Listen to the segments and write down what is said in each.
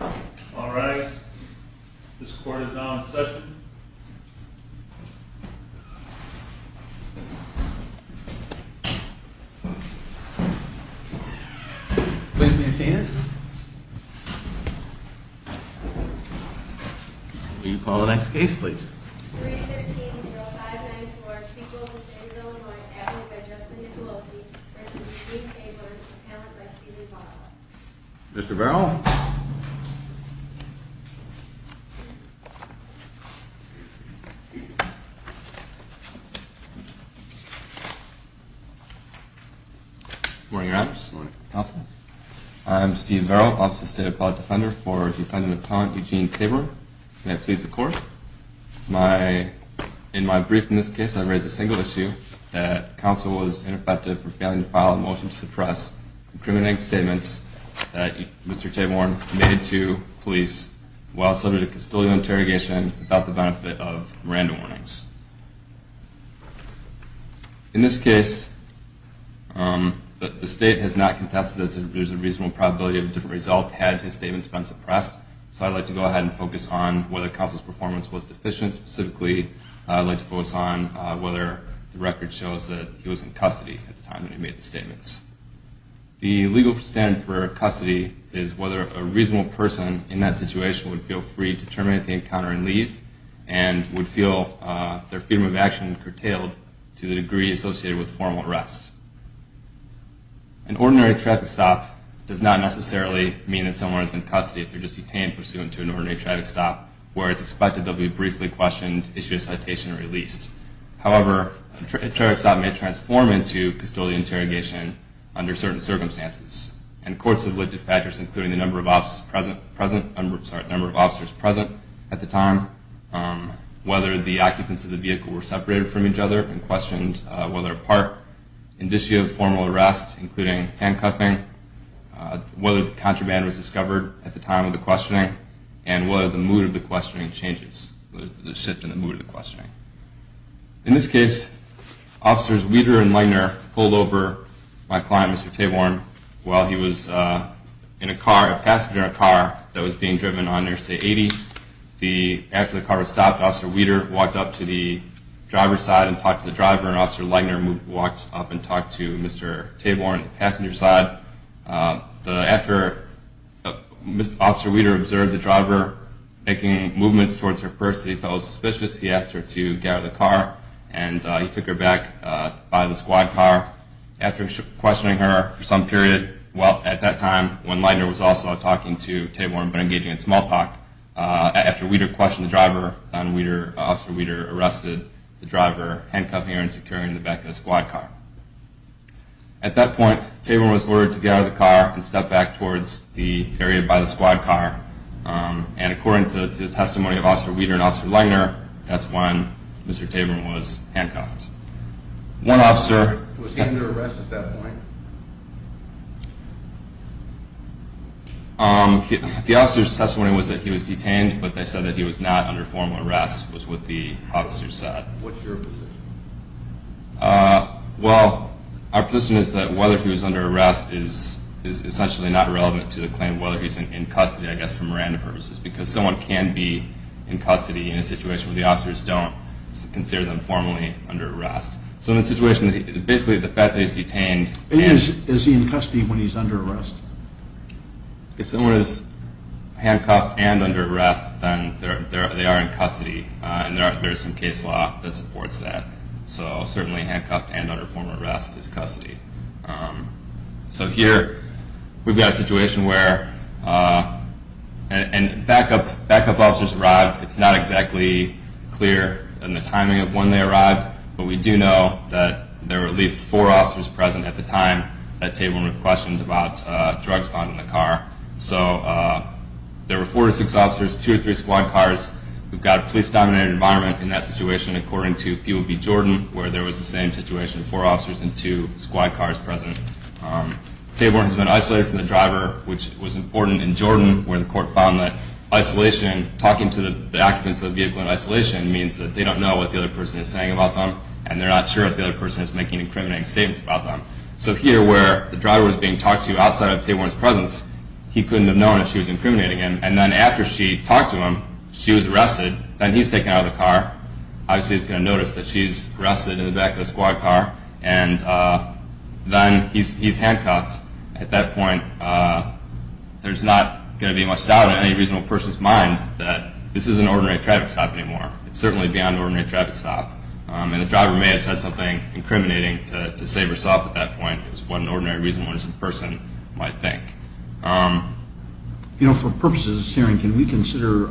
All right. This court is now in session. Please be seated. Will you call the next case, please? 313-0594, Peoples, Inglewood, North Africa, by Justin Nicolosi, v. Tayborn, accounted by Steven Barlow. Mr. Barrow. Good morning, Your Honors. Good morning, Counsel. I am Steve Barrow, Office of the State Appellate Defender, for Defendant Appellant Eugene Tayborn. May I please the Court? In my brief in this case, I raise a single issue, that counsel was ineffective for failing to file a motion to suppress incriminating statements that Mr. Tayborn made to police while submitted a custodial interrogation without the benefit of Miranda warnings. In this case, the State has not contested that there's a reasonable probability of a different result had his statements been suppressed, so I'd like to go ahead and focus on whether counsel's performance was deficient. Specifically, I'd like to focus on whether the record shows that he was in custody at the time that he made the statements. The legal standard for custody is whether a reasonable person in that situation would feel free to terminate the encounter and leave and would feel their freedom of action curtailed to the degree associated with formal arrest. An ordinary traffic stop does not necessarily mean that someone is in custody if they're just detained pursuant to an ordinary traffic stop, where it's expected they'll be briefly questioned, issued a citation, and released. However, a traffic stop may transform into custodial interrogation under certain circumstances, and courts have looked at factors including the number of officers present at the time, whether the occupants of the vehicle were separated from each other and questioned whether apart, in the issue of formal arrest, including handcuffing, whether the contraband was discovered at the time of the questioning, and whether the mood of the questioning changes, whether there's a shift in the mood of the questioning. In this case, Officers Weter and Legner pulled over my client, Mr. Taborn, while he was in a car, a passenger car, that was being driven on Interstate 80. After the car was stopped, Officer Weter walked up to the driver's side and talked to the driver, and Officer Legner walked up and talked to Mr. Taborn on the passenger side. After Officer Weter observed the driver making movements towards her first, he felt suspicious, he asked her to get out of the car, and he took her back by the squad car. After questioning her for some period, well, at that time, when Legner was also talking to Taborn, but engaging in small talk, after Weter questioned the driver, Officer Weter arrested the driver, handcuffing her and securing the back of the squad car. At that point, Taborn was ordered to get out of the car and step back towards the area by the squad car, and according to the testimony of Officer Weter and Officer Legner, that's when Mr. Taborn was handcuffed. One officer... Was he under arrest at that point? The officer's testimony was that he was detained, but they said that he was not under formal arrest, was what the officer said. What's your position? Well, our position is that whether he was under arrest is essentially not relevant to the claim whether he's in custody, I guess, for Miranda purposes, because someone can be in custody in a situation where the officers don't consider them formally under arrest. So in a situation, basically, the fact that he's detained... Is he in custody when he's under arrest? If someone is handcuffed and under arrest, then they are in custody, and there is some case law that supports that. So certainly, handcuffed and under formal arrest is custody. So here, we've got a situation where backup officers arrived. It's not exactly clear in the timing of when they arrived, but we do know that there were at least four officers present at the time that Taborn was questioned about drugs found in the car. So there were four or six officers, two or three squad cars. We've got a police-dominated environment in that situation, according to POB Jordan, where there was the same situation, four officers and two squad cars present. Taborn has been isolated from the driver, which was important in Jordan, where the court found that talking to the occupants of the vehicle in isolation means that they don't know what the other person is saying about them, and they're not sure if the other person is making incriminating statements about them. So here, where the driver was being talked to outside of Taborn's presence, he couldn't have known that she was incriminating him, and then after she talked to him, she was arrested. Then he's taken out of the car. Obviously, he's going to notice that she's arrested in the back of the squad car, and then he's handcuffed. At that point, there's not going to be much doubt in any reasonable person's mind that this is an ordinary traffic stop anymore. It's certainly beyond an ordinary traffic stop, and the driver may have said something incriminating to save herself at that point is what an ordinary reasonable person might think. You know, for purposes of this hearing, can we consider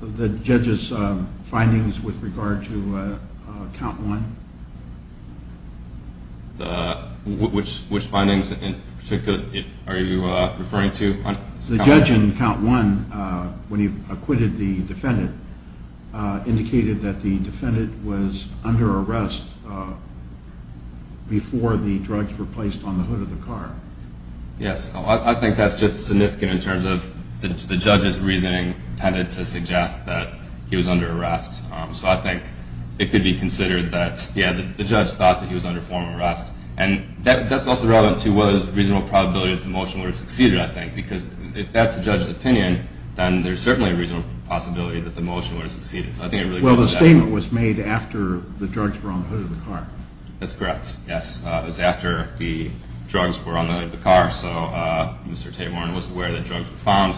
the judge's findings with regard to Count 1? Which findings in particular are you referring to? The judge in Count 1, when he acquitted the defendant, indicated that the defendant was under arrest Yes, I think that's just significant in terms of the judge's reasoning tended to suggest that he was under arrest. So I think it could be considered that the judge thought that he was under formal arrest, and that's also relevant to whether there's a reasonable probability that the motion would have succeeded, I think, because if that's the judge's opinion, then there's certainly a reasonable possibility that the motion would have succeeded. Well, the statement was made after the drugs were on the hood of the car. That's correct, yes. It was after the drugs were on the hood of the car, so Mr. Taborn was aware that drugs were found.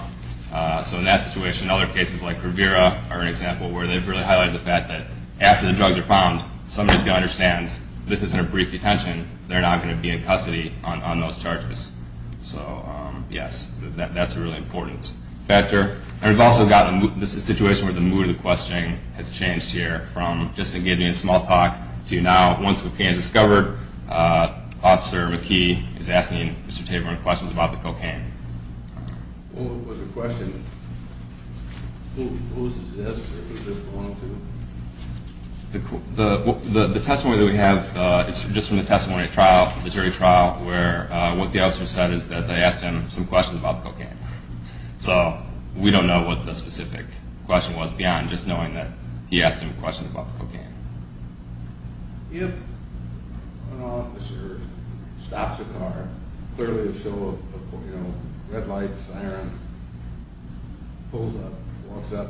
So in that situation, other cases like Kervira are an example where they've really highlighted the fact that after the drugs are found, somebody's going to understand this isn't a brief detention, they're not going to be in custody on those charges. So, yes, that's a really important factor. And we've also got a situation where the mood of the questioning has changed here from just engaging in small talk to now, once we've gained discovery, where Officer McKee is asking Mr. Taborn questions about the cocaine. What was the question? Who is this? The testimony that we have is just from the testimony at the jury trial where what the officer said is that they asked him some questions about the cocaine. So we don't know what the specific question was beyond just knowing that he asked him questions about the cocaine. If an officer stops a car, clearly a show of red lights, siren, pulls up, walks up,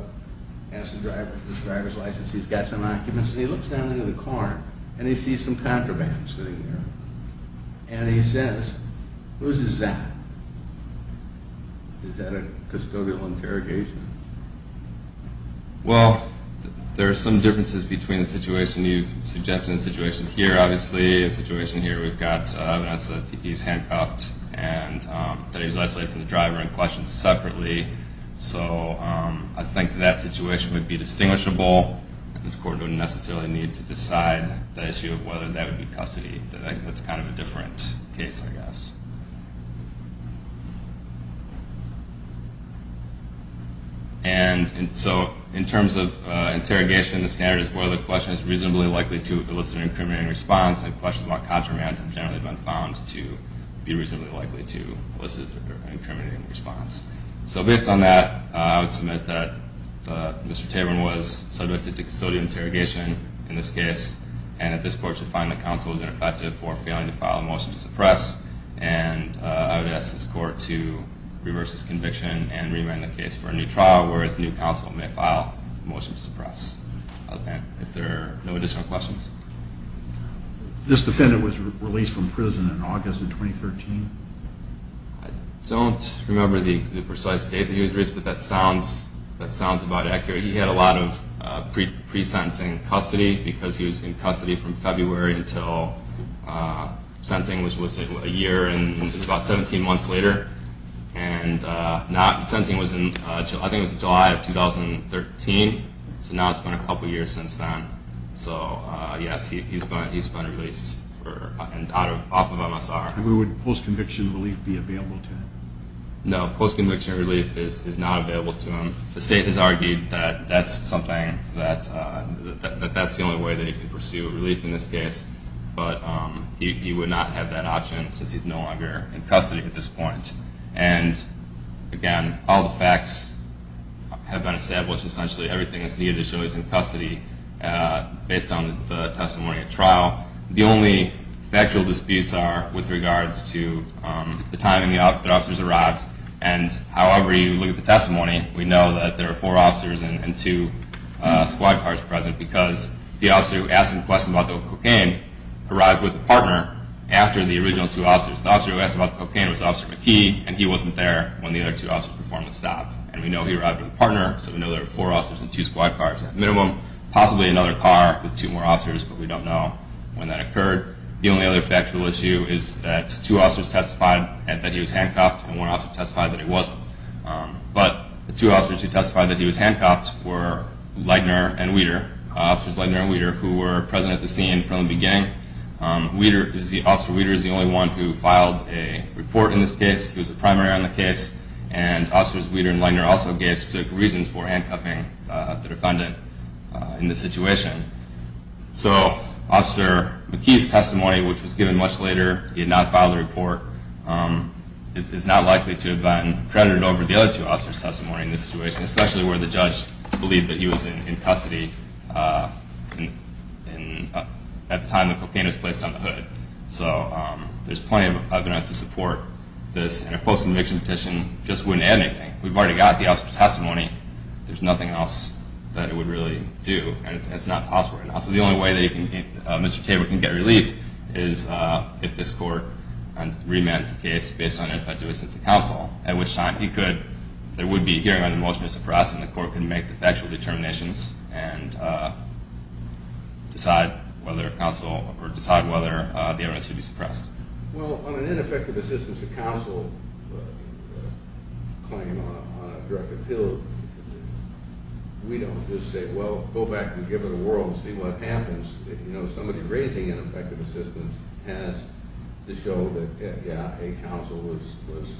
asks the driver for his driver's license, he's got some documents, and he looks down into the car and he sees some contraband sitting there. And he says, who's is that? Is that a custodial interrogation? Well, there are some differences between the situation you've suggested and the situation here, obviously. The situation here, we've got evidence that he's handcuffed and that he was isolated from the driver and questioned separately. So I think that that situation would be distinguishable. This court wouldn't necessarily need to decide the issue of whether that would be custody. That's kind of a different case, I guess. So in terms of interrogation, the standard is whether the question is reasonably likely to elicit an incriminating response, and questions about contraband have generally been found to be reasonably likely to elicit an incriminating response. So based on that, I would submit that Mr. Taborn was subjected to custodial interrogation in this case, and that this court should find the counsel was ineffective for failing to file a motion to suppress. And I would ask this court to reverse this conviction and remand the case for a new trial, whereas the new counsel may file a motion to suppress. If there are no additional questions. This defendant was released from prison in August of 2013? I don't remember the precise date that he was released, but that sounds about accurate. He had a lot of pre-sensing custody, because he was in custody from February until sensing, which was a year and about 17 months later. And sensing was in July of 2013, so now it's been a couple years since then. So yes, he's been released off of MSR. And would post-conviction relief be available to him? No, post-conviction relief is not available to him. The state has argued that that's the only way that he can pursue relief in this case, but he would not have that option since he's no longer in custody at this point. And again, all the facts have been established. Essentially everything that's needed to show he's in custody, based on the testimony at trial. The only factual disputes are with regards to the time the officers arrived, and however you look at the testimony, we know that there are four officers and two squad cars present, because the officer who asked him questions about the cocaine arrived with a partner after the original two officers. The officer who asked about the cocaine was Officer McKee, and he wasn't there when the other two officers performed the stop. And we know he arrived with a partner, so we know there were four officers and two squad cars at minimum. Possibly another car with two more officers, but we don't know when that occurred. The only other factual issue is that two officers testified that he was handcuffed, and one officer testified that he wasn't. But the two officers who testified that he was handcuffed were Leitner and Weter, Officers Leitner and Weter, who were present at the scene from the beginning. Officer Weter is the only one who filed a report in this case. He was a primary on the case, and Officers Weter and Leitner also took reasons for handcuffing the defendant in this situation. So Officer McKee's testimony, which was given much later, he did not file the report, is not likely to have been credited over the other two officers' testimony in this situation, especially where the judge believed that he was in custody at the time the cocaine was placed on the hood. So there's plenty of evidence to support this, and a post-conviction petition just wouldn't add anything. We've already got the officer's testimony. There's nothing else that it would really do, and it's not possible. So the only way that Mr. Tabor can get relief is if this court remanded the case based on ineffective assistance of counsel, at which time there would be a hearing on the motion to suppress, and the court can make the factual determinations and decide whether the evidence should be suppressed. Well, on an ineffective assistance of counsel claim on a drug appeal, we don't just say, well, go back and give it a whirl and see what happens. You know, somebody raising ineffective assistance has to show that, yeah, a, counsel was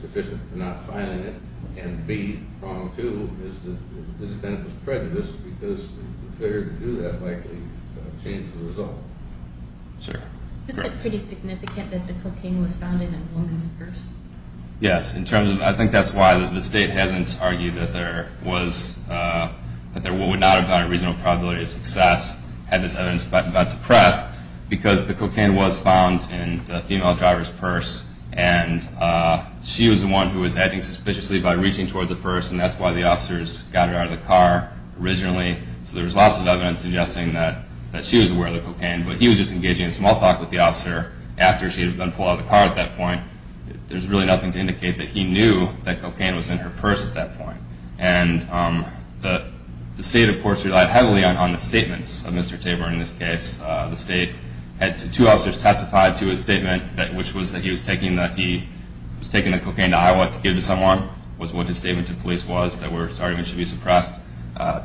deficient for not filing it, and b, problem two is that the defendant was prejudiced because the failure to do that likely changed the result. Sir? Isn't it pretty significant that the cocaine was found in a woman's purse? Yes. I think that's why the state hasn't argued that there would not have been a reasonable probability of success had this evidence gotten suppressed, because the cocaine was found in the female driver's purse, and she was the one who was acting suspiciously by reaching towards the purse, and that's why the officers got her out of the car originally. So there's lots of evidence suggesting that she was aware of the cocaine, but he was just engaging in small talk with the officer after she had been pulled out of the car at that point. There's really nothing to indicate that he knew that cocaine was in her purse at that point. And the state, of course, relied heavily on the statements of Mr. Tabor in this case. The state had two officers testify to his statement, which was that he was taking the cocaine to Iowa to give to someone, was what his statement to police was, that his arguments should be suppressed.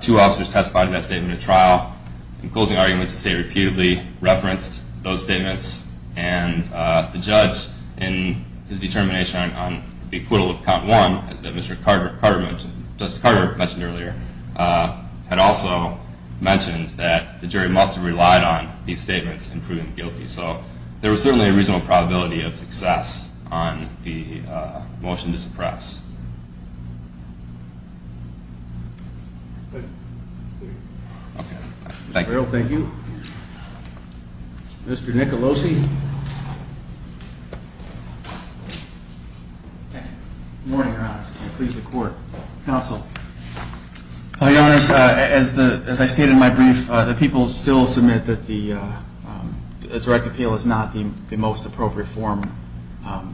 Two officers testified in that statement at trial. In closing arguments, the state repeatedly referenced those statements, and the judge, in his determination on the acquittal of count one that Mr. Carter mentioned, Justice Carter mentioned earlier, had also mentioned that the jury must have relied on these statements in proving guilty. So there was certainly a reasonable probability of success on the motion to suppress. Thank you. Thank you. Mr. Nicolosi. Good morning, Your Honor. Please, the court. Counsel. Your Honor, as I stated in my brief, the people still submit that the direct appeal is not the most appropriate form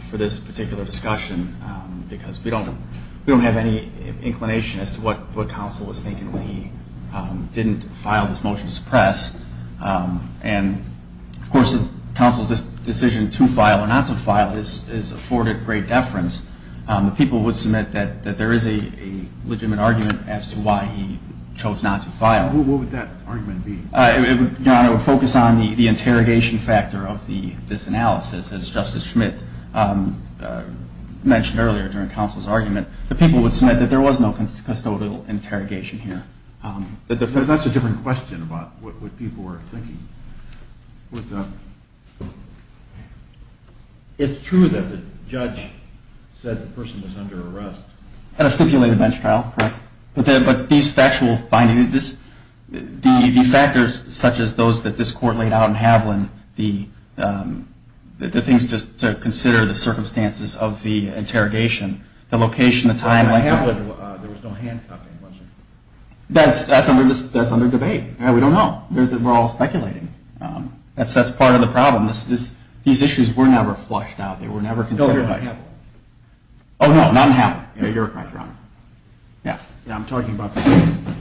for this particular discussion because we don't have any inclination as to what counsel was thinking when he didn't file this motion to suppress. And, of course, if counsel's decision to file or not to file is afforded great deference, the people would submit that there is a legitimate argument as to why he chose not to file. What would that argument be? Your Honor, it would focus on the interrogation factor of this analysis, as Justice Schmidt mentioned earlier during counsel's argument. The people would submit that there was no custodial interrogation here. That's a different question about what people were thinking. It's true that the judge said the person was under arrest. At a stipulated bench trial, correct. But these factual findings, the factors such as those that this court laid out in Haviland, the things to consider, the circumstances of the interrogation, the location, the time. There was no handcuffing, was there? That's under debate. We don't know. We're all speculating. That's part of the problem. These issues were never flushed out. They were never considered. No, they were in Haviland. Oh, no, not in Haviland. You're correct, Your Honor. Yeah. Yeah, I'm talking about the court.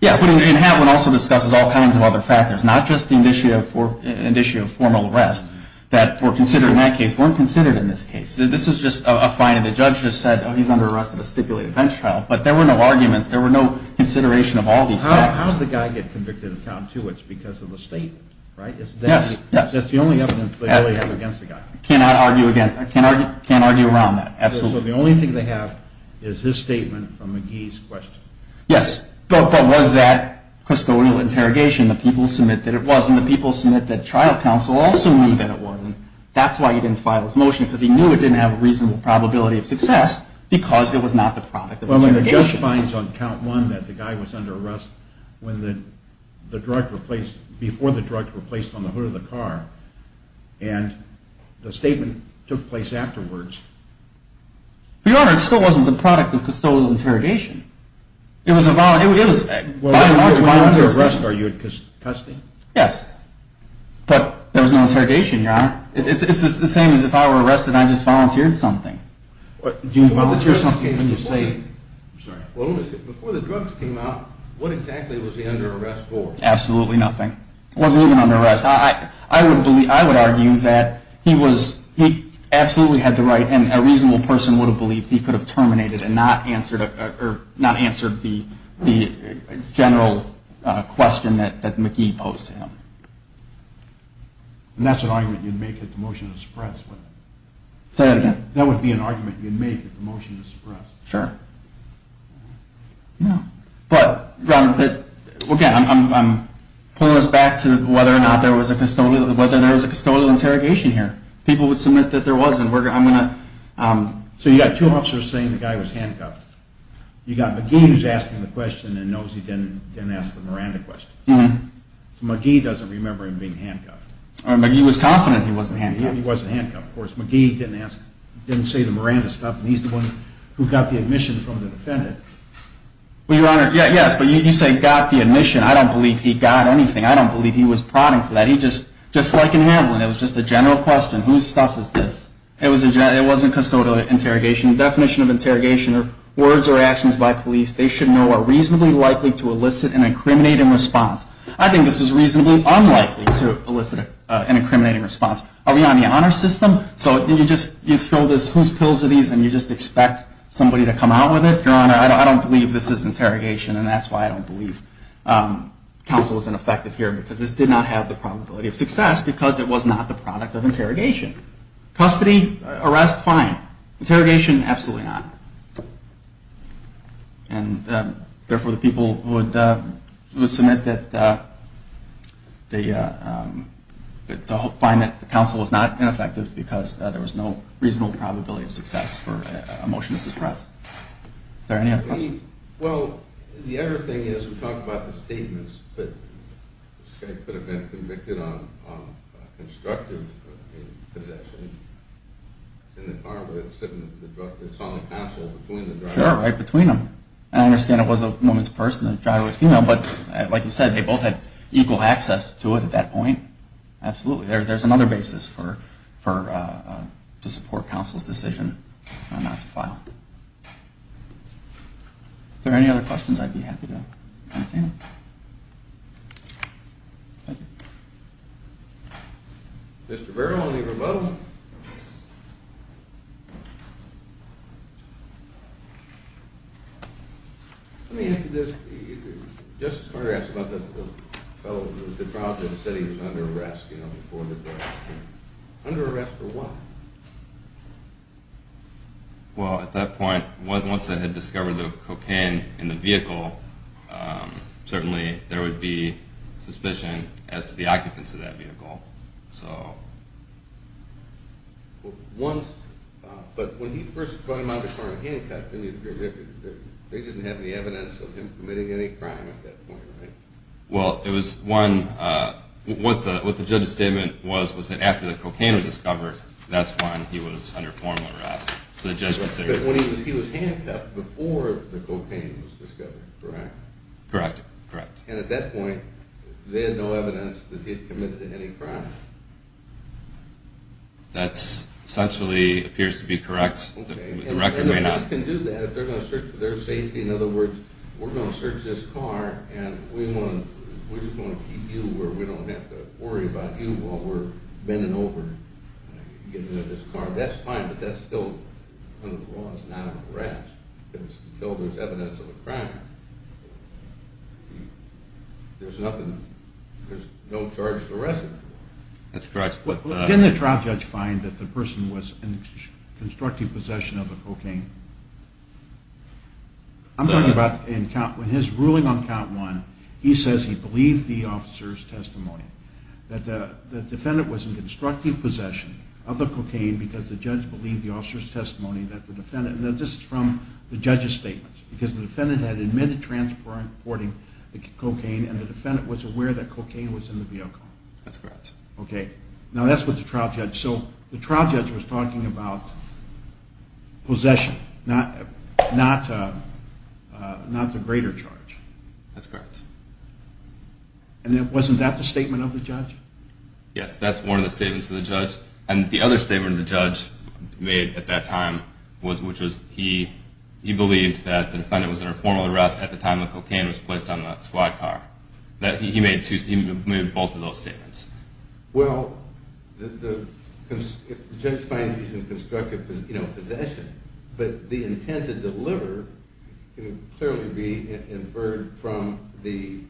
Yeah, but in Haviland also discusses all kinds of other factors. Not just an issue of formal arrest that were considered in that case, weren't considered in this case. This is just a finding. The judge just said, oh, he's under arrest at a stipulated bench trial. But there were no arguments. There were no consideration of all these factors. How does the guy get convicted of count two? It's because of the state, right? Yes, yes. That's the only evidence they really have against the guy. Cannot argue against. I can't argue around that. Absolutely. So the only thing they have is his statement from McGee's question. Yes, but was that custodial interrogation? The people submit that it wasn't. The people submit that trial counsel also knew that it wasn't. That's why he didn't file his motion, because he knew it didn't have a reasonable probability of success, because it was not the product of interrogation. Well, the judge finds on count one that the guy was under arrest before the drugs were placed on the hood of the car. And the statement took place afterwards. Your Honor, it still wasn't the product of custodial interrogation. It was by and large a volunteer statement. Well, if you're under arrest, are you in custody? Yes. But there was no interrogation, Your Honor. It's the same as if I were arrested and I just volunteered something. Do you volunteer something when you say? Well, before the drugs came out, what exactly was he under arrest for? Absolutely nothing. He wasn't even under arrest. I would argue that he absolutely had the right and a reasonable person would have believed he could have terminated and not answered the general question that McGee posed to him. And that's an argument you'd make if the motion was suppressed. Say that again. That would be an argument you'd make if the motion was suppressed. Sure. No. But, Ron, again, I'm pulling this back to whether or not there was a custodial interrogation here. People would submit that there wasn't. So you've got two officers saying the guy was handcuffed. You've got McGee who's asking the question and knows he didn't ask the Miranda question. So McGee doesn't remember him being handcuffed. Or McGee was confident he wasn't handcuffed. He wasn't handcuffed. Of course, McGee didn't say the Miranda stuff, and he's the one who got the admission from the defendant. Well, Your Honor, yes, but you say got the admission. I don't believe he got anything. I don't believe he was prodding for that. Just like in Hamlin, it was just a general question. Whose stuff is this? It wasn't custodial interrogation. The definition of interrogation are words or actions by police they should know are reasonably likely to elicit an incriminating response. I think this is reasonably unlikely to elicit an incriminating response. Are we on the honor system? So you just throw this, whose pills are these, and you just expect somebody to come out with it? Your Honor, I don't believe this is interrogation, and that's why I don't believe counsel is ineffective here, because this did not have the probability of success because it was not the product of interrogation. Custody, arrest, fine. Interrogation, absolutely not. And therefore, the people would submit that they find that the counsel was not ineffective because there was no reasonable probability of success for a motion to suppress. Are there any other questions? Well, the other thing is we talked about the statements, but this guy could have been convicted on constructive possession in the car, but it's on the counsel between the driver. Sure, right between them. I understand it was a woman's purse and the driver was female, but like you said, they both had equal access to it at that point. Absolutely. There's another basis to support counsel's decision not to file. Are there any other questions? I'd be happy to entertain them. Thank you. Mr. Byrd, I'll leave you alone. Let me answer this. Justice Carter asked about the fellow who was dethroned and said he was under arrest. Under arrest for what? Well, at that point, once they had discovered the cocaine in the vehicle, certainly there would be suspicion as to the occupants of that vehicle. But when he first got him out of the car handcuffed, they didn't have any evidence of him committing any crime at that point, right? Well, what the judge's statement was was that after the cocaine was discovered, that's when he was under formal arrest. But he was handcuffed before the cocaine was discovered, correct? Correct, correct. And at that point, they had no evidence that he had committed any crime. That essentially appears to be correct. The record may not. And the police can do that if they're going to search for their safety. In other words, we're going to search this car, and we just want to keep you where we don't have to worry about you while we're bending over to get into this car. That's fine, but that's still under the law. Until there's evidence of a crime, there's no charge to arrest him for. That's correct. Didn't the trial judge find that the person was in constructive possession of the cocaine? I'm talking about when his ruling on count one, he says he believes the officer's testimony, that the defendant was in constructive possession of the cocaine because the judge believed the officer's testimony that the defendant, and this is from the judge's statement, because the defendant had admitted transporting the cocaine and the defendant was aware that cocaine was in the vehicle. That's correct. Okay. Now that's with the trial judge. So the trial judge was talking about possession, not the greater charge. That's correct. And wasn't that the statement of the judge? Yes, that's one of the statements of the judge. And the other statement the judge made at that time, which was he believed that the defendant was under formal arrest at the time the cocaine was placed on the squad car. He made both of those statements. Well, the judge finds he's in constructive possession, but the intent to deliver can clearly be inferred from the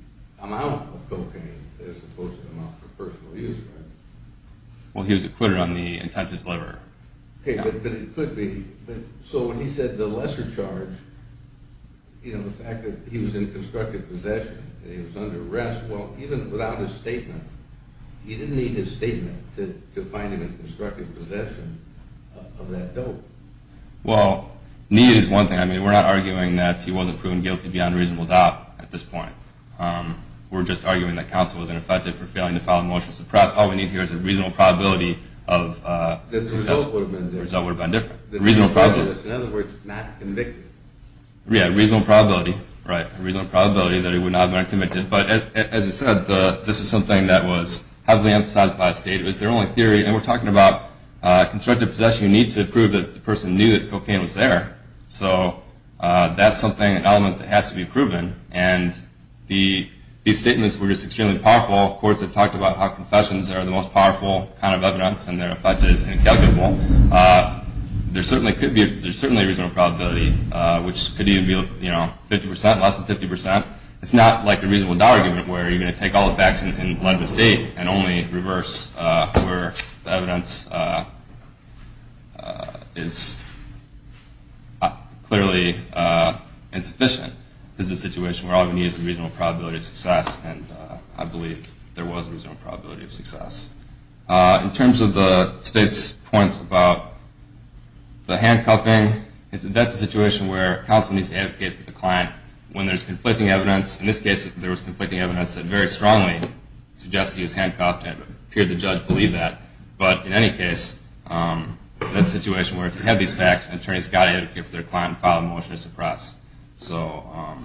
amount of cocaine as opposed to the amount for personal use, right? Well, he was acquitted on the intent to deliver. Okay, but it could be. So when he said the lesser charge, the fact that he was in constructive possession and he was under arrest, well, even without his statement, he didn't need his statement to find him in constructive possession of that dope. Well, need is one thing. I mean, we're not arguing that he wasn't proven guilty beyond reasonable doubt at this point. We're just arguing that counsel was ineffective for failing to file a motion to suppress. All we need here is a reasonable probability of success. Then the result would have been different. The result would have been different. Reasonable probability. In other words, not convicted. Yeah, reasonable probability, right. A reasonable probability that he would not have been convicted. But as I said, this is something that was heavily emphasized by the state. It was their only theory. And we're talking about constructive possession. You need to prove that the person knew that the cocaine was there. So that's something, an element that has to be proven. And these statements were just extremely powerful. Courts have talked about how confessions are the most powerful kind of evidence and their effect is incalculable. There certainly could be a reasonable probability, which could even be 50%, less than 50%. It's not like a reasonable doubt argument where you're going to take all the facts and let the state and only reverse where the evidence is clearly insufficient. This is a situation where all you need is a reasonable probability of success. And I believe there was a reasonable probability of success. In terms of the state's points about the handcuffing, that's a situation where counsel needs to advocate for the client when there's conflicting evidence. In this case, there was conflicting evidence that very strongly suggested he was handcuffed and it appeared the judge believed that. But in any case, that's a situation where if you have these facts, an attorney's got to advocate for their client and file a motion to suppress. Well,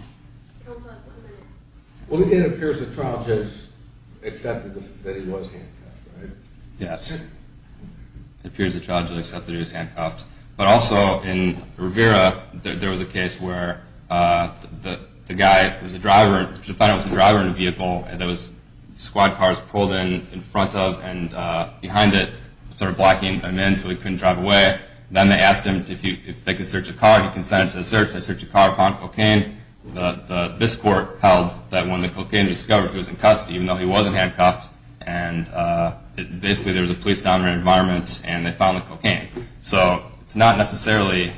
it appears the trial judge accepted that he was handcuffed, right? Yes. It appears the trial judge accepted he was handcuffed. But also in Rivera, there was a case where the guy was a driver. It was a driver in a vehicle and there was squad cars pulled in front of and behind it. They were blocking him in so he couldn't drive away. Then they asked him if they could search a car. He consented to the search. They searched the car and found cocaine. This court held that when the cocaine was discovered, he was in custody, even though he wasn't handcuffed. And basically, there was a police-dominant environment and they found the cocaine. So it's not necessarily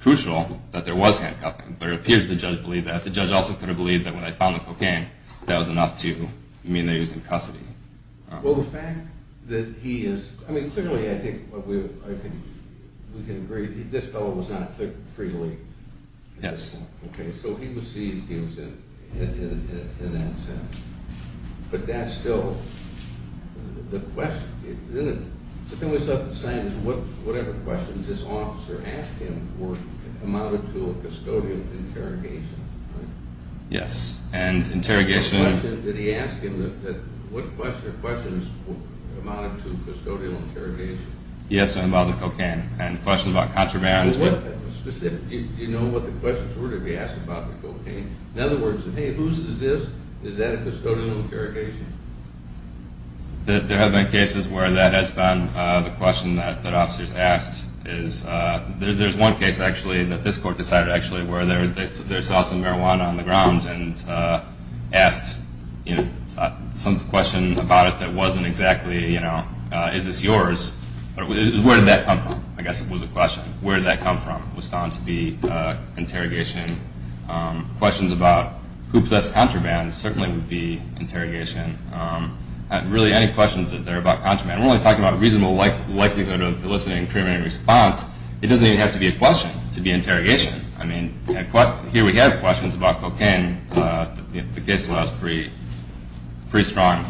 crucial that there was handcuffing, but it appears the judge believed that. The judge also could have believed that when they found the cocaine, that was enough to mean that he was in custody. Well, the fact that he is – I mean, clearly, I think we can agree that this fellow was not free to leave. Yes. Okay, so he was seized, he was in that sense. But that's still – the question – the thing we still have to decide is whatever questions this officer asked him were amounted to a custodial interrogation, right? Yes, and interrogation – The question is amounted to custodial interrogation. Yes, and about the cocaine, and questions about contraband. Do you know what the questions were to be asked about the cocaine? In other words, hey, whose is this? Is that a custodial interrogation? There have been cases where that has been the question that officers asked. There's one case, actually, that this court decided, actually, where they saw some marijuana on the ground and asked some question about it that wasn't exactly, you know, is this yours? Where did that come from? I guess it was a question. Where did that come from was found to be interrogation. Questions about who possessed contraband certainly would be interrogation. Really, any questions that are about contraband. We're only talking about a reasonable likelihood of eliciting a criminal response. It doesn't even have to be a question to be interrogation. I mean, here we have questions about cocaine. The case law is pretty strong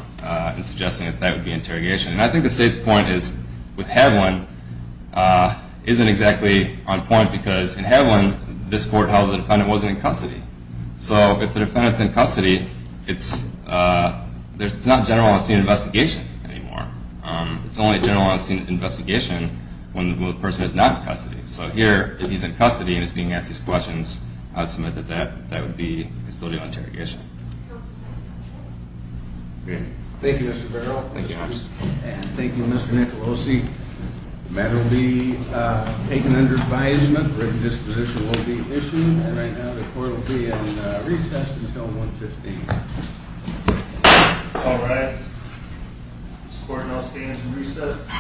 in suggesting that that would be interrogation. And I think the State's point is, with Heavlin, isn't exactly on point, because in Heavlin, this court held the defendant wasn't in custody. So if the defendant's in custody, it's not general on-scene investigation anymore. It's only general on-scene investigation when the person is not in custody. So here, if he's in custody and he's being asked these questions, I would submit that that would be constitutional interrogation. Thank you, Mr. Barrow. Thank you, Mr. Nicholosi. The matter will be taken under advisement. A written disposition will be issued. And right now the court will be in recess until 1.15. All rise. This court now stands in recess.